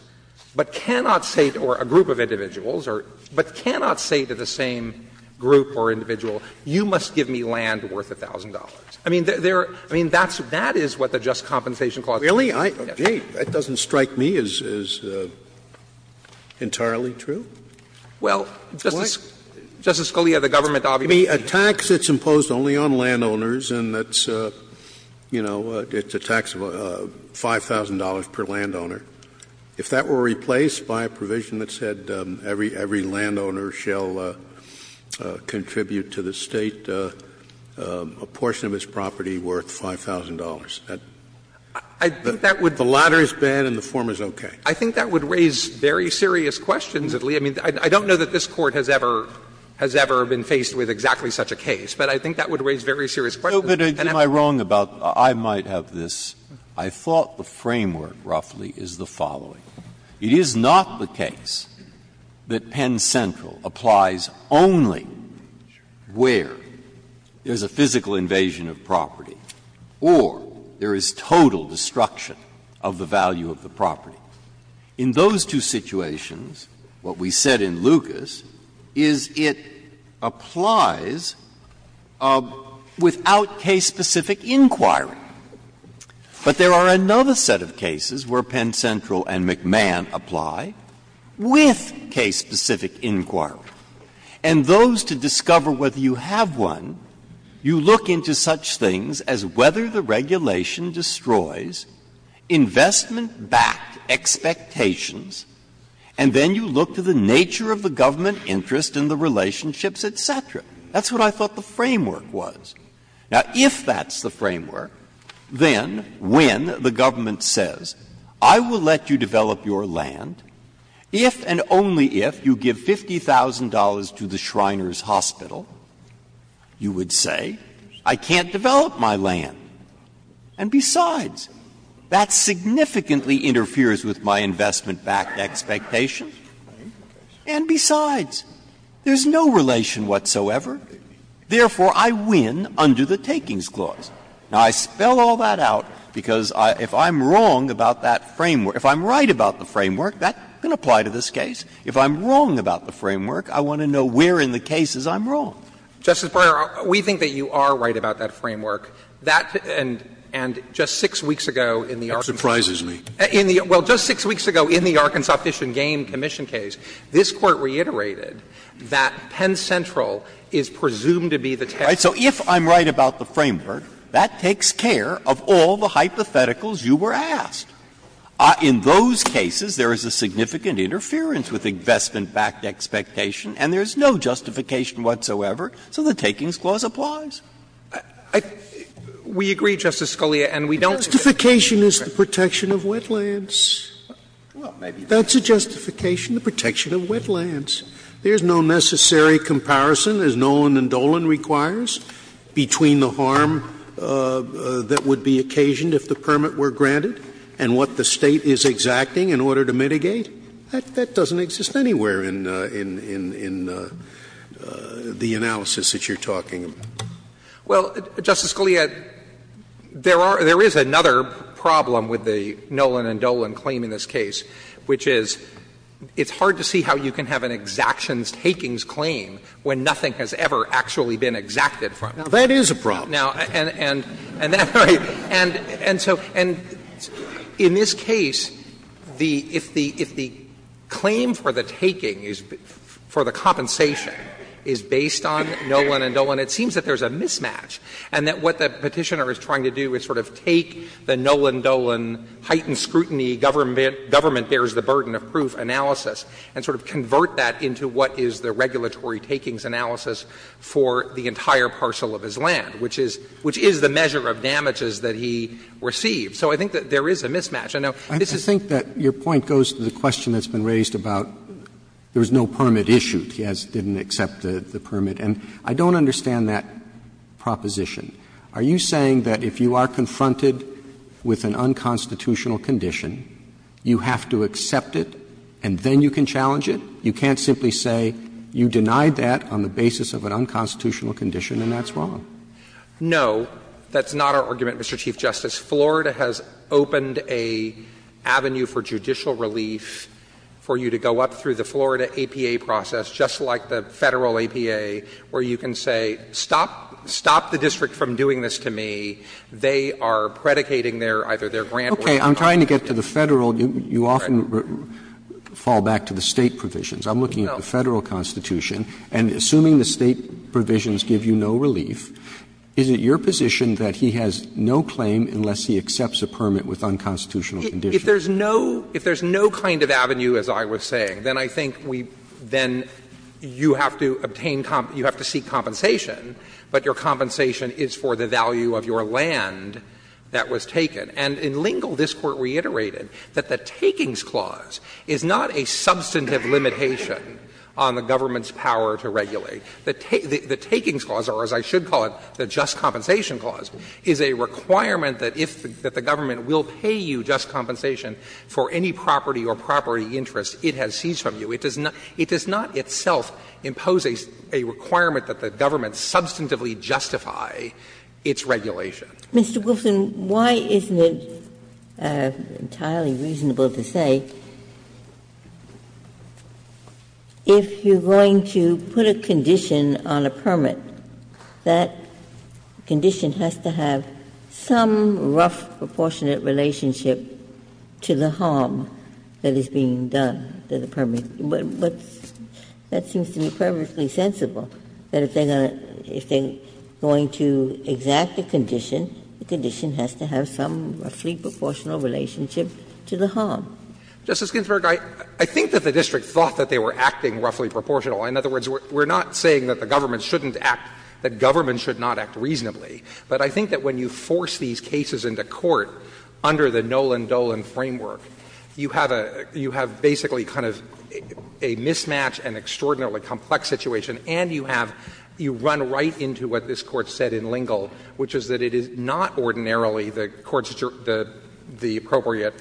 but cannot say to — or a group of individuals, but cannot say to the same group or individual, you must give me land worth $1,000. I mean, there — I mean, that's — that is what the Just Compensation Clause says. Really? I — gee, that doesn't strike me as entirely true. I think that would — the latter is bad and the former is okay. I think that would raise very serious questions at least. I mean, I don't know that this Court has ever — has ever been faced with exactly such a case, but I think that would raise very serious questions. Breyer. Breyer. No, but am I wrong about — I might have this. I thought the framework roughly is the following. It is not the case that Penn Central applies only where there is a physical invasion of property or there is total destruction of the value of the property. It's not case-specific inquiry. But there are another set of cases where Penn Central and McMahon apply with case-specific inquiry. And those, to discover whether you have one, you look into such things as whether the regulation destroys investment-backed expectations, and then you look to the nature of the government interest and the relationships, et cetera. That's what I thought the framework was. Now, if that's the framework, then when the government says, I will let you develop your land if and only if you give $50,000 to the Shriners Hospital, you would say, I can't develop my land. And besides, that significantly interferes with my investment-backed expectation. And besides, there is no relation whatsoever. Therefore, I win under the Takings Clause. Now, I spell all that out because if I'm wrong about that framework — if I'm right about the framework, that can apply to this case. If I'm wrong about the framework, I want to know where in the cases I'm wrong. Justice Breyer, we think that you are right about that framework. That and just 6 weeks ago in the Arkansas Fish and Game Commission case, this Court reiterated that Penn Central is presumed to be the taxpayer. So if I'm right about the framework, that takes care of all the hypotheticals you were asked. In those cases, there is a significant interference with investment-backed expectation, and there is no justification whatsoever, so the Takings Clause applies. I — we agree, Justice Scalia, and we don't think that's the case. Justification is the protection of wetlands. Well, maybe. That's a justification, the protection of wetlands. There is no necessary comparison, as Nolan and Dolan requires, between the harm that would be occasioned if the permit were granted and what the State is exacting in order to mitigate. That doesn't exist anywhere in the analysis that you're talking about. Well, Justice Scalia, there are — there is another problem with the Nolan and Dolan claim in this case, which is it's hard to see how you can have an exactions-takings claim when nothing has ever actually been exacted from it. Now, that is a problem. Now, and that — and so — and in this case, the — if the claim for the taking is — for the compensation is based on Nolan and Dolan, it seems that there is a mismatch, and that what the Petitioner is trying to do is sort of take the Nolan-Dolan heightened scrutiny government-bears-the-burden-of-proof analysis and sort of convert that into what is the regulatory takings analysis for the entire parcel of his land, which is — which is the measure of damages that he received. So I think that there is a mismatch. I know this is— Roberts I think that your point goes to the question that's been raised about there was no permit issued. He has — didn't accept the permit. And I don't understand that proposition. Are you saying that if you are confronted with an unconstitutional condition, you have to accept it, and then you can challenge it? You can't simply say you denied that on the basis of an unconstitutional condition, and that's wrong. No, that's not our argument, Mr. Chief Justice. Florida has opened an avenue for judicial relief for you to go up through the Florida APA process, just like the Federal APA, where you can say, stop — stop the district from doing this to me. They are predicating their — either their grant or not. Roberts Okay. I'm trying to get to the Federal — you often fall back to the State provisions. I'm looking at the Federal constitution, and assuming the State provisions give you no relief, is it your position that he has no claim unless he accepts a permit with unconstitutional conditions? If there's no — if there's no kind of avenue, as I was saying, then I think we — then you have to obtain — you have to seek compensation, but your compensation is for the value of your land that was taken. And in Lingle, this Court reiterated that the Takings Clause is not a substantive limitation on the government's power to regulate. The Takings Clause, or as I should call it, the Just Compensation Clause, is a requirement that if — that the government will pay you just compensation for any property or property interest it has seized from you. It does not — it does not itself impose a requirement that the government substantively justify its regulation. Ginsburg Mr. Goulston, why isn't it entirely reasonable to say, if you're going to put a condition on a permit, that condition has to have some rough proportionate relationship to the harm that is being done to the permit? But that seems to be perfectly sensible, that if they're going to exact a condition, the condition has to have some roughly proportional relationship to the harm. Justice Ginsburg, I think that the district thought that they were acting roughly proportional. In other words, we're not saying that the government shouldn't act — that government should not act reasonably. But I think that when you force these cases into court under the Noland-Dolan framework, you have a — you have basically kind of a mismatch, an extraordinarily complex situation, and you have — you run right into what this Court said in Lingle, which is that it is not ordinarily the Court's — the appropriate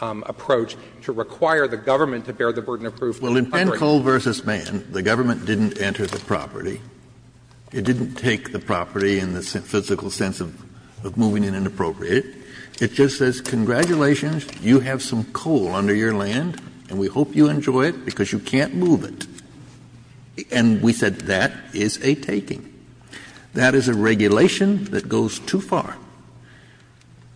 approach to require the government to bear the burden of proof of the property. Kennedy Well, in Pencoe v. Mann, the government didn't enter the property. It didn't take the property in the physical sense of moving it in an appropriate way. It just says, congratulations, you have some coal under your land, and we hope you enjoy it because you can't move it. And we said that is a taking. That is a regulation that goes too far.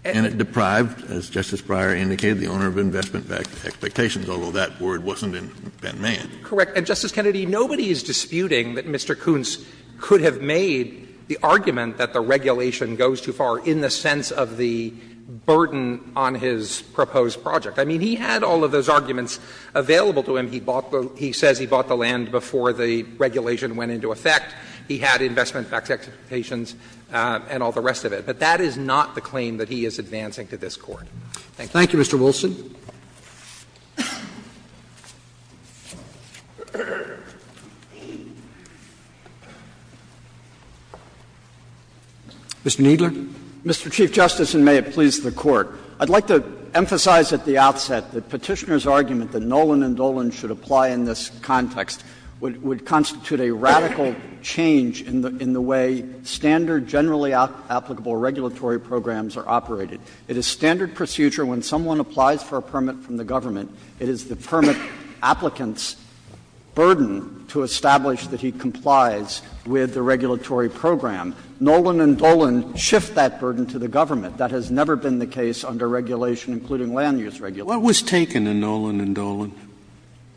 And it deprived, as Justice Breyer indicated, the owner of investment expectations, although that word wasn't in Penn-Mann. Waxman Correct. And, Justice Kennedy, nobody is disputing that Mr. Koontz could have made the argument that the regulation goes too far in the sense of the burden on his proposed project. I mean, he had all of those arguments available to him. He bought the — he says he bought the land before the regulation went into effect. He had investment expectations and all the rest of it. But that is not the claim that he is advancing to this Court. Thank you. Thank you, Mr. Wilson. Mr. Kneedler. Mr. Chief Justice, and may it please the Court. I'd like to emphasize at the outset that Petitioner's argument that Nolan and Dolan should apply in this context would constitute a radical change in the way standard, generally applicable regulatory programs are operated. It is standard procedure when someone applies for a permit from the government, it is the permit applicant's burden to establish that he complies with the regulatory program. Nolan and Dolan shift that burden to the government. That has never been the case under regulation, including land use regulation. Scalia. What was taken in Nolan and Dolan?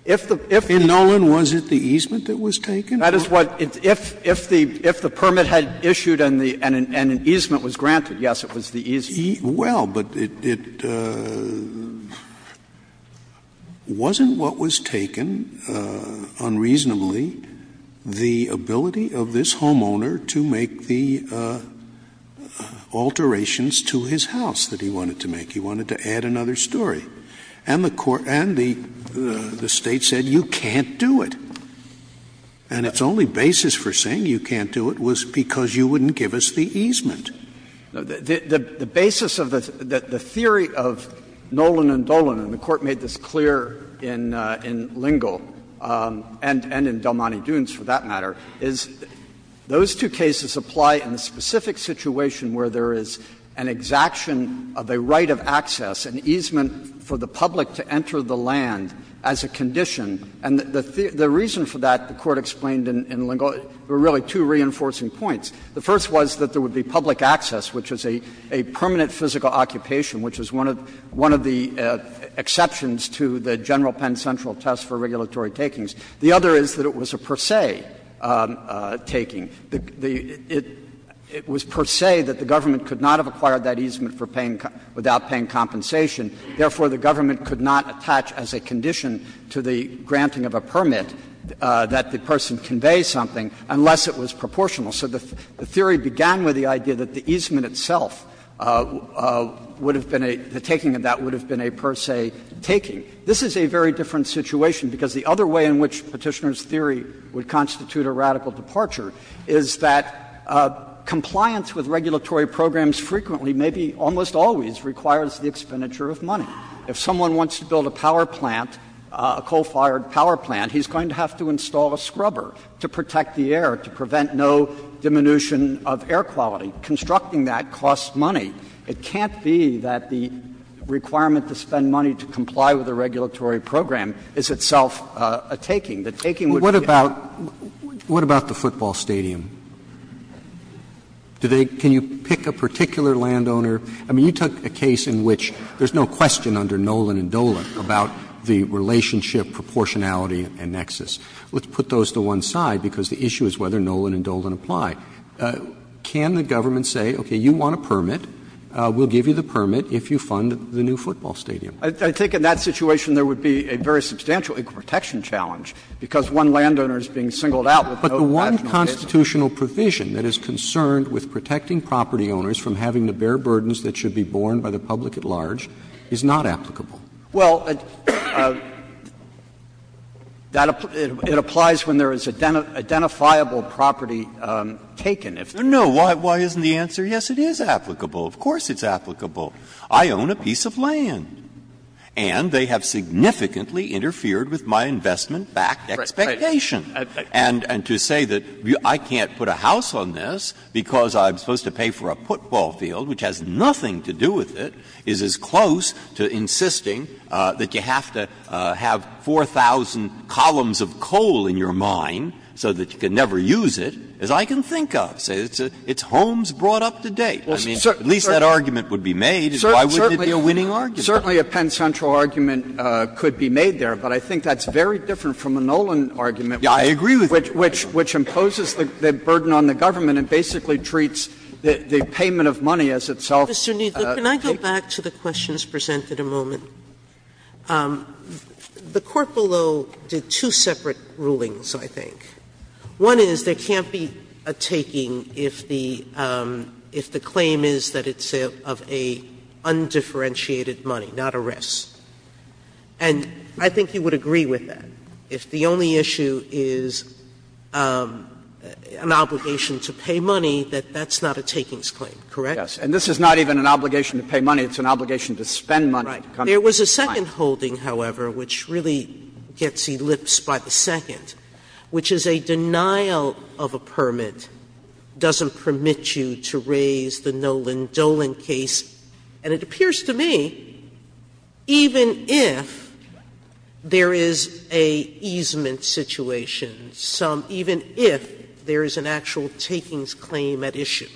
In Nolan, was it the easement that was taken? That is what — if the permit had issued and an easement was granted, yes, it was the easement. Well, but it wasn't what was taken unreasonably, the ability of this homeowner to make the alterations to his house that he wanted to make. He wanted to add another story. And the State said, you can't do it. And its only basis for saying you can't do it was because you wouldn't give us the easement. The basis of the theory of Nolan and Dolan, and the Court made this clear in Lingle and in Del Monte Dunes, for that matter, is those two cases apply in the specific situation where there is an exaction of a right of access, an easement for the public to enter the land as a condition. And the reason for that, the Court explained in Lingle, were really two reinforcing points. The first was that there would be public access, which is a permanent physical occupation, which is one of the exceptions to the General Penn Central test for regulatory takings. The other is that it was a per se taking. It was per se that the government could not have acquired that easement for paying — without paying compensation. Therefore, the government could not attach as a condition to the granting of a permit that the person convey something unless it was proportional. So the theory began with the idea that the easement itself would have been a — the taking of that would have been a per se taking. This is a very different situation, because the other way in which Petitioner's theory would constitute a radical departure is that compliance with regulatory programs frequently, maybe almost always, requires the expenditure of money. If someone wants to build a power plant, a coal-fired power plant, he's going to have to install a scrubber to protect the air, to prevent no diminution of air quality. Constructing that costs money. It can't be that the requirement to spend money to comply with a regulatory program is itself a taking. The taking would be a per se taking. Roberts, what about the football stadium? Do they — can you pick a particular landowner? I mean, you took a case in which there's no question under Nolan and Dolan about the relationship, proportionality, and nexus. Let's put those to one side, because the issue is whether Nolan and Dolan apply. Can the government say, okay, you want a permit, we'll give you the permit if you fund the new football stadium? I think in that situation there would be a very substantial equal protection challenge, because one landowner is being singled out with no additional business. But the one constitutional provision that is concerned with protecting property owners from having to bear burdens that should be borne by the public at large is not applicable. Well, that — it applies when there is identifiable property taken. No, why isn't the answer, yes, it is applicable? Of course it's applicable. I own a piece of land, and they have significantly interfered with my investment-backed expectation. And to say that I can't put a house on this because I'm supposed to pay for a football field, which has nothing to do with it, is as close to insisting that you have to have 4,000 columns of coal in your mine so that you can never use it as I can think of. It's homes brought up to date. I mean, at least that argument would be made, and why wouldn't it be a winning argument? Certainly a Penn Central argument could be made there, but I think that's very different from the Nolan argument, which imposes the burden on the government and basically treats the payment of money as itself. Sotomayor Mr. Kneedler, can I go back to the questions presented a moment? The court below did two separate rulings, I think. One is there can't be a taking if the claim is that it's of an undifferentiated money, not a risk. And I think you would agree with that. If the only issue is an obligation to pay money, that that's not a takings claim, Kneedler Yes. And this is not even an obligation to pay money. It's an obligation to spend money to come to the mine. Sotomayor Right. There was a second holding, however, which really gets elipsed by the second, which is a denial of a permit doesn't permit you to raise the Nolan-Dolan case. And it appears to me even if there is an easement situation, even if there is an actual takings claim at issue,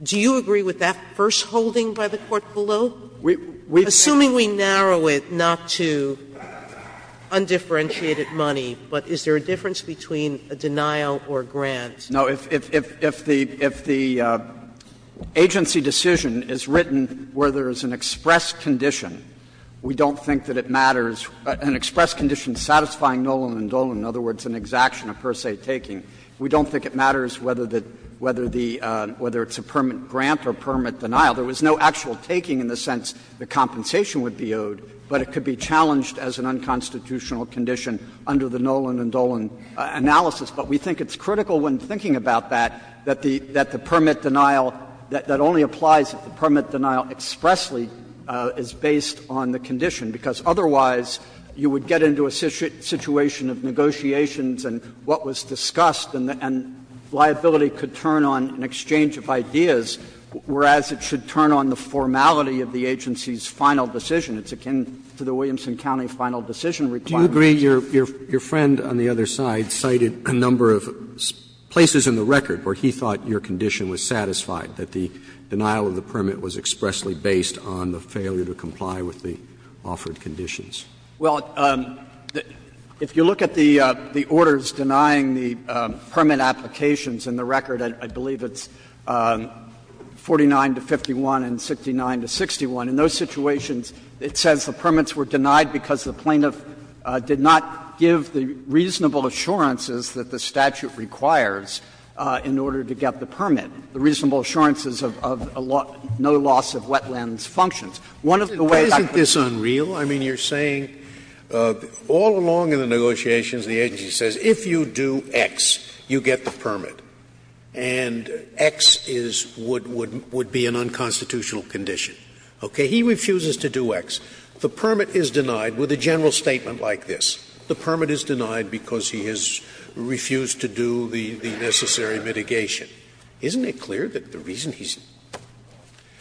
do you agree with that first holding by the court below? Assuming we narrow it not to undifferentiated money, but is there a difference between a denial or a grant? Kneedler No. If the agency decision is written where there is an express condition, we don't think that it matters. An express condition satisfying Nolan and Dolan, in other words, an exaction of per se taking, we don't think it matters whether the — whether it's a permit grant or permit denial. There was no actual taking in the sense the compensation would be owed, but it could be challenged as an unconstitutional condition under the Nolan and Dolan analysis. But we think it's critical when thinking about that, that the permit denial — that only applies if the permit denial expressly is based on the condition, because otherwise you would get into a situation of negotiations and what was discussed and liability could turn on an exchange of ideas, whereas it should turn on the formality of the agency's final decision. It's akin to the Williamson County final decision requirement. Roberts I agree your friend on the other side cited a number of places in the record where he thought your condition was satisfied, that the denial of the permit was expressly based on the failure to comply with the offered conditions. Kneedler Well, if you look at the orders denying the permit applications in the record, I believe it's 49 to 51 and 69 to 61. In those situations, it says the permits were denied because the plaintiff did not give the reasonable assurances that the statute requires in order to get the permit, the reasonable assurances of no loss of wetlands functions. One of the ways that could be used. Scalia Isn't this unreal? I mean, you're saying all along in the negotiations the agency says if you do X, you get the permit, and X is what would be an unconstitutional condition. Okay? He refuses to do X. The permit is denied with a general statement like this. The permit is denied because he has refused to do the necessary mitigation. Isn't it clear that the reason he's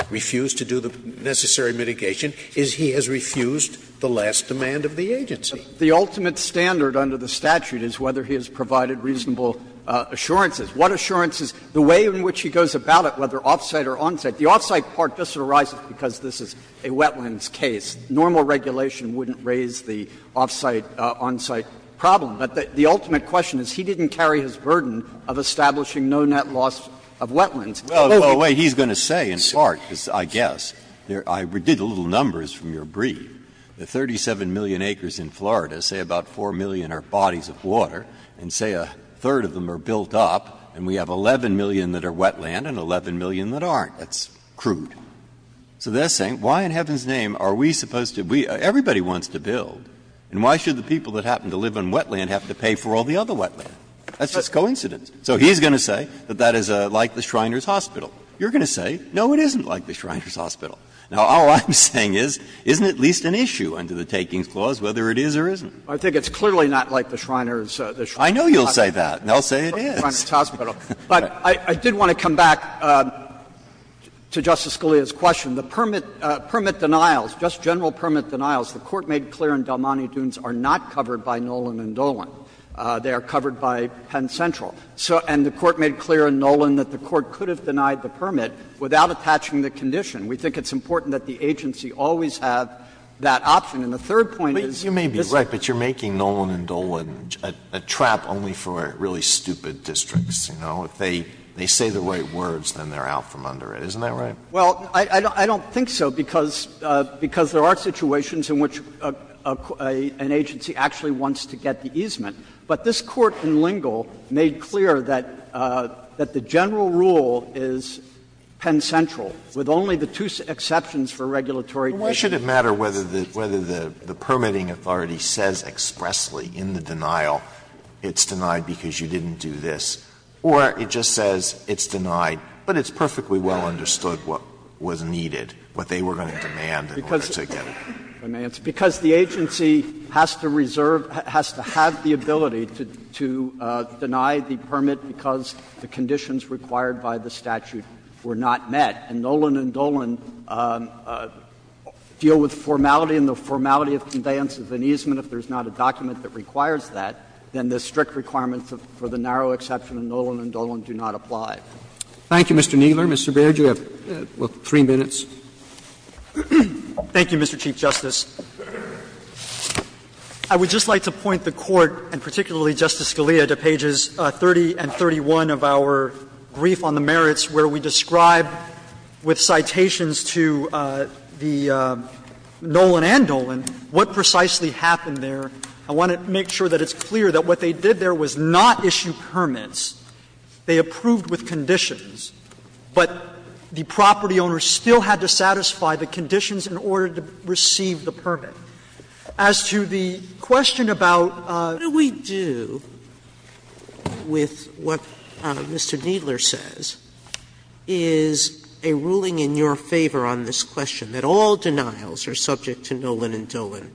refused to do the necessary mitigation is he has refused the last demand of the agency? Kneedler The ultimate standard under the statute is whether he has provided reasonable assurances. What assurances? The way in which he goes about it, whether off-site or on-site. If the off-site part just arises because this is a wetlands case, normal regulation wouldn't raise the off-site, on-site problem. But the ultimate question is he didn't carry his burden of establishing no net loss of wetlands. Breyer Well, the way he's going to say, in part, because I guess, I did a little numbers from your brief. The 37 million acres in Florida, say about 4 million are bodies of water, and say a third of them are built up, and we have 11 million that are wetland and 11 million that aren't. That's crude. So they're saying, why in heaven's name are we supposed to be – everybody wants to build, and why should the people that happen to live on wetland have to pay for all the other wetland? That's just coincidence. So he's going to say that that is like the Shriner's Hospital. You're going to say, no, it isn't like the Shriner's Hospital. Now, all I'm saying is, isn't it at least an issue under the takings clause, whether it is or isn't? Kneedler I think it's clearly not like the Shriner's Hospital. Breyer I know you'll say that, and they'll say it is. But I did want to come back to Justice Scalia's question. The permit denials, just general permit denials, the Court made clear in Del Monte Dunes are not covered by Nolan and Dolan. They are covered by Penn Central. So – and the Court made clear in Nolan that the Court could have denied the permit without attaching the condition. We think it's important that the agency always have that option. And the third point is, this is the case of the Shriner's Hospital, and the Shriner's Hospital is a district, you know. If they say the right words, then they're out from under it. Isn't that right? Kneedler Well, I don't think so, because there are situations in which an agency actually wants to get the easement. But this Court in Lingle made clear that the general rule is Penn Central, with only the two exceptions for regulatory reasons. Alito Why should it matter whether the permitting authority says expressly in the denial it's denied because you didn't do this, or it just says it's denied, but it's perfectly well understood what was needed, what they were going to demand in order to get it? Kneedler Because the agency has to reserve, has to have the ability to deny the permit because the conditions required by the statute were not met. And Nolan and Dolan deal with formality and the formality of conveyance of an easement if there's not a document that requires that, then the strict requirements for the narrow exception of Nolan and Dolan do not apply. Roberts Thank you, Mr. Kneedler. Mr. Baird, you have three minutes. Baird Thank you, Mr. Chief Justice. I would just like to point the Court, and particularly Justice Scalia, to pages 30 and 31 of our brief on the merits, where we describe with citations to the Nolan and Dolan what precisely happened there. I want to make sure that it's clear that what they did there was not issue permits. They approved with conditions, but the property owner still had to satisfy the conditions in order to receive the permit. As to the question about what do we do with what Mr. Kneedler says, is a ruling in your favor on this question, that all denials are subject to Nolan and Dolan.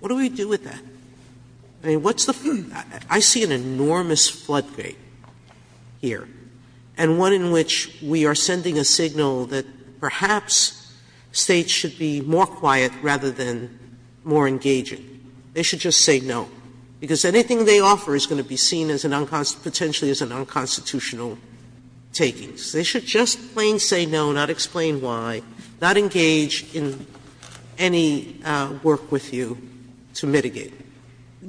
What do we do with that? I mean, what's the ---- I see an enormous floodgate here, and one in which we are sending a signal that perhaps States should be more quiet rather than more engaging. They should just say no, because anything they offer is going to be seen as an unconstitutional ---- potentially as an unconstitutional taking. They should just plain say no, not explain why, not engage in any work with you to mitigate.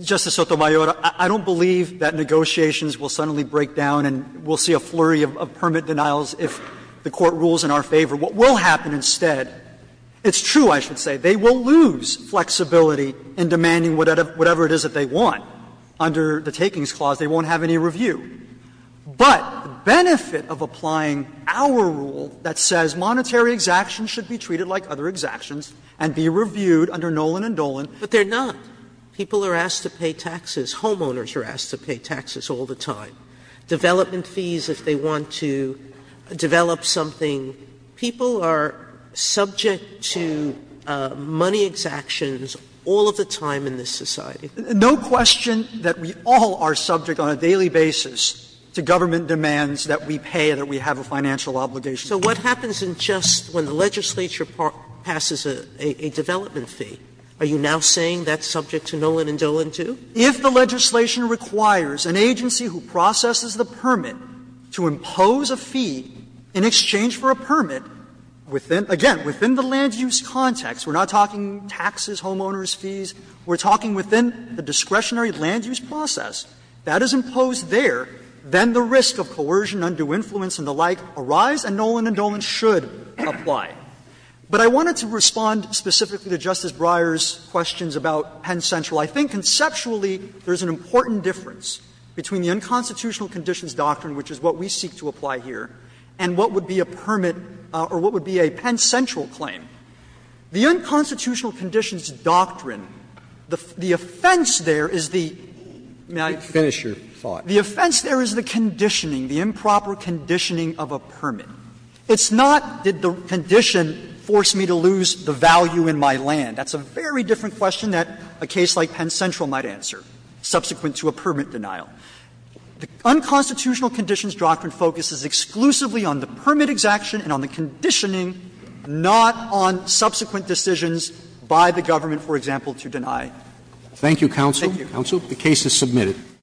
Justice Sotomayor, I don't believe that negotiations will suddenly break down and we'll see a flurry of permit denials if the Court rules in our favor. What will happen instead, it's true, I should say, they will lose flexibility in demanding whatever it is that they want. Under the Takings Clause, they won't have any review. But the benefit of applying our rule that says monetary exactions should be treated like other exactions and be reviewed under Nolan and Dolan. Sotomayor, but they're not. People are asked to pay taxes. Homeowners are asked to pay taxes all the time. Development fees, if they want to develop something. People are subject to money exactions all of the time in this society. No question that we all are subject on a daily basis to government demands that we pay, that we have a financial obligation. Sotomayor, so what happens in just when the legislature passes a development fee? Are you now saying that's subject to Nolan and Dolan, too? If the legislation requires an agency who processes the permit to impose a fee in exchange for a permit within, again, within the land use context, we're not talking taxes, homeowners' fees. We're talking within the discretionary land use process that is imposed there. Then the risk of coercion, undue influence and the like arise, and Nolan and Dolan should apply. But I wanted to respond specifically to Justice Breyer's questions about Penn Central. I think conceptually there's an important difference between the unconstitutional conditions doctrine, which is what we seek to apply here, and what would be a permit or what would be a Penn Central claim. The unconstitutional conditions doctrine, the offense there is the improper conditioning of a permit. It's not did the condition force me to lose the value in my land. That's a very different question that a case like Penn Central might answer, subsequent to a permit denial. The unconstitutional conditions doctrine focuses exclusively on the permit execution and on the conditioning, not on subsequent decisions by the government, for example, to deny. Roberts. Thank you, counsel. Thank you. The case is submitted.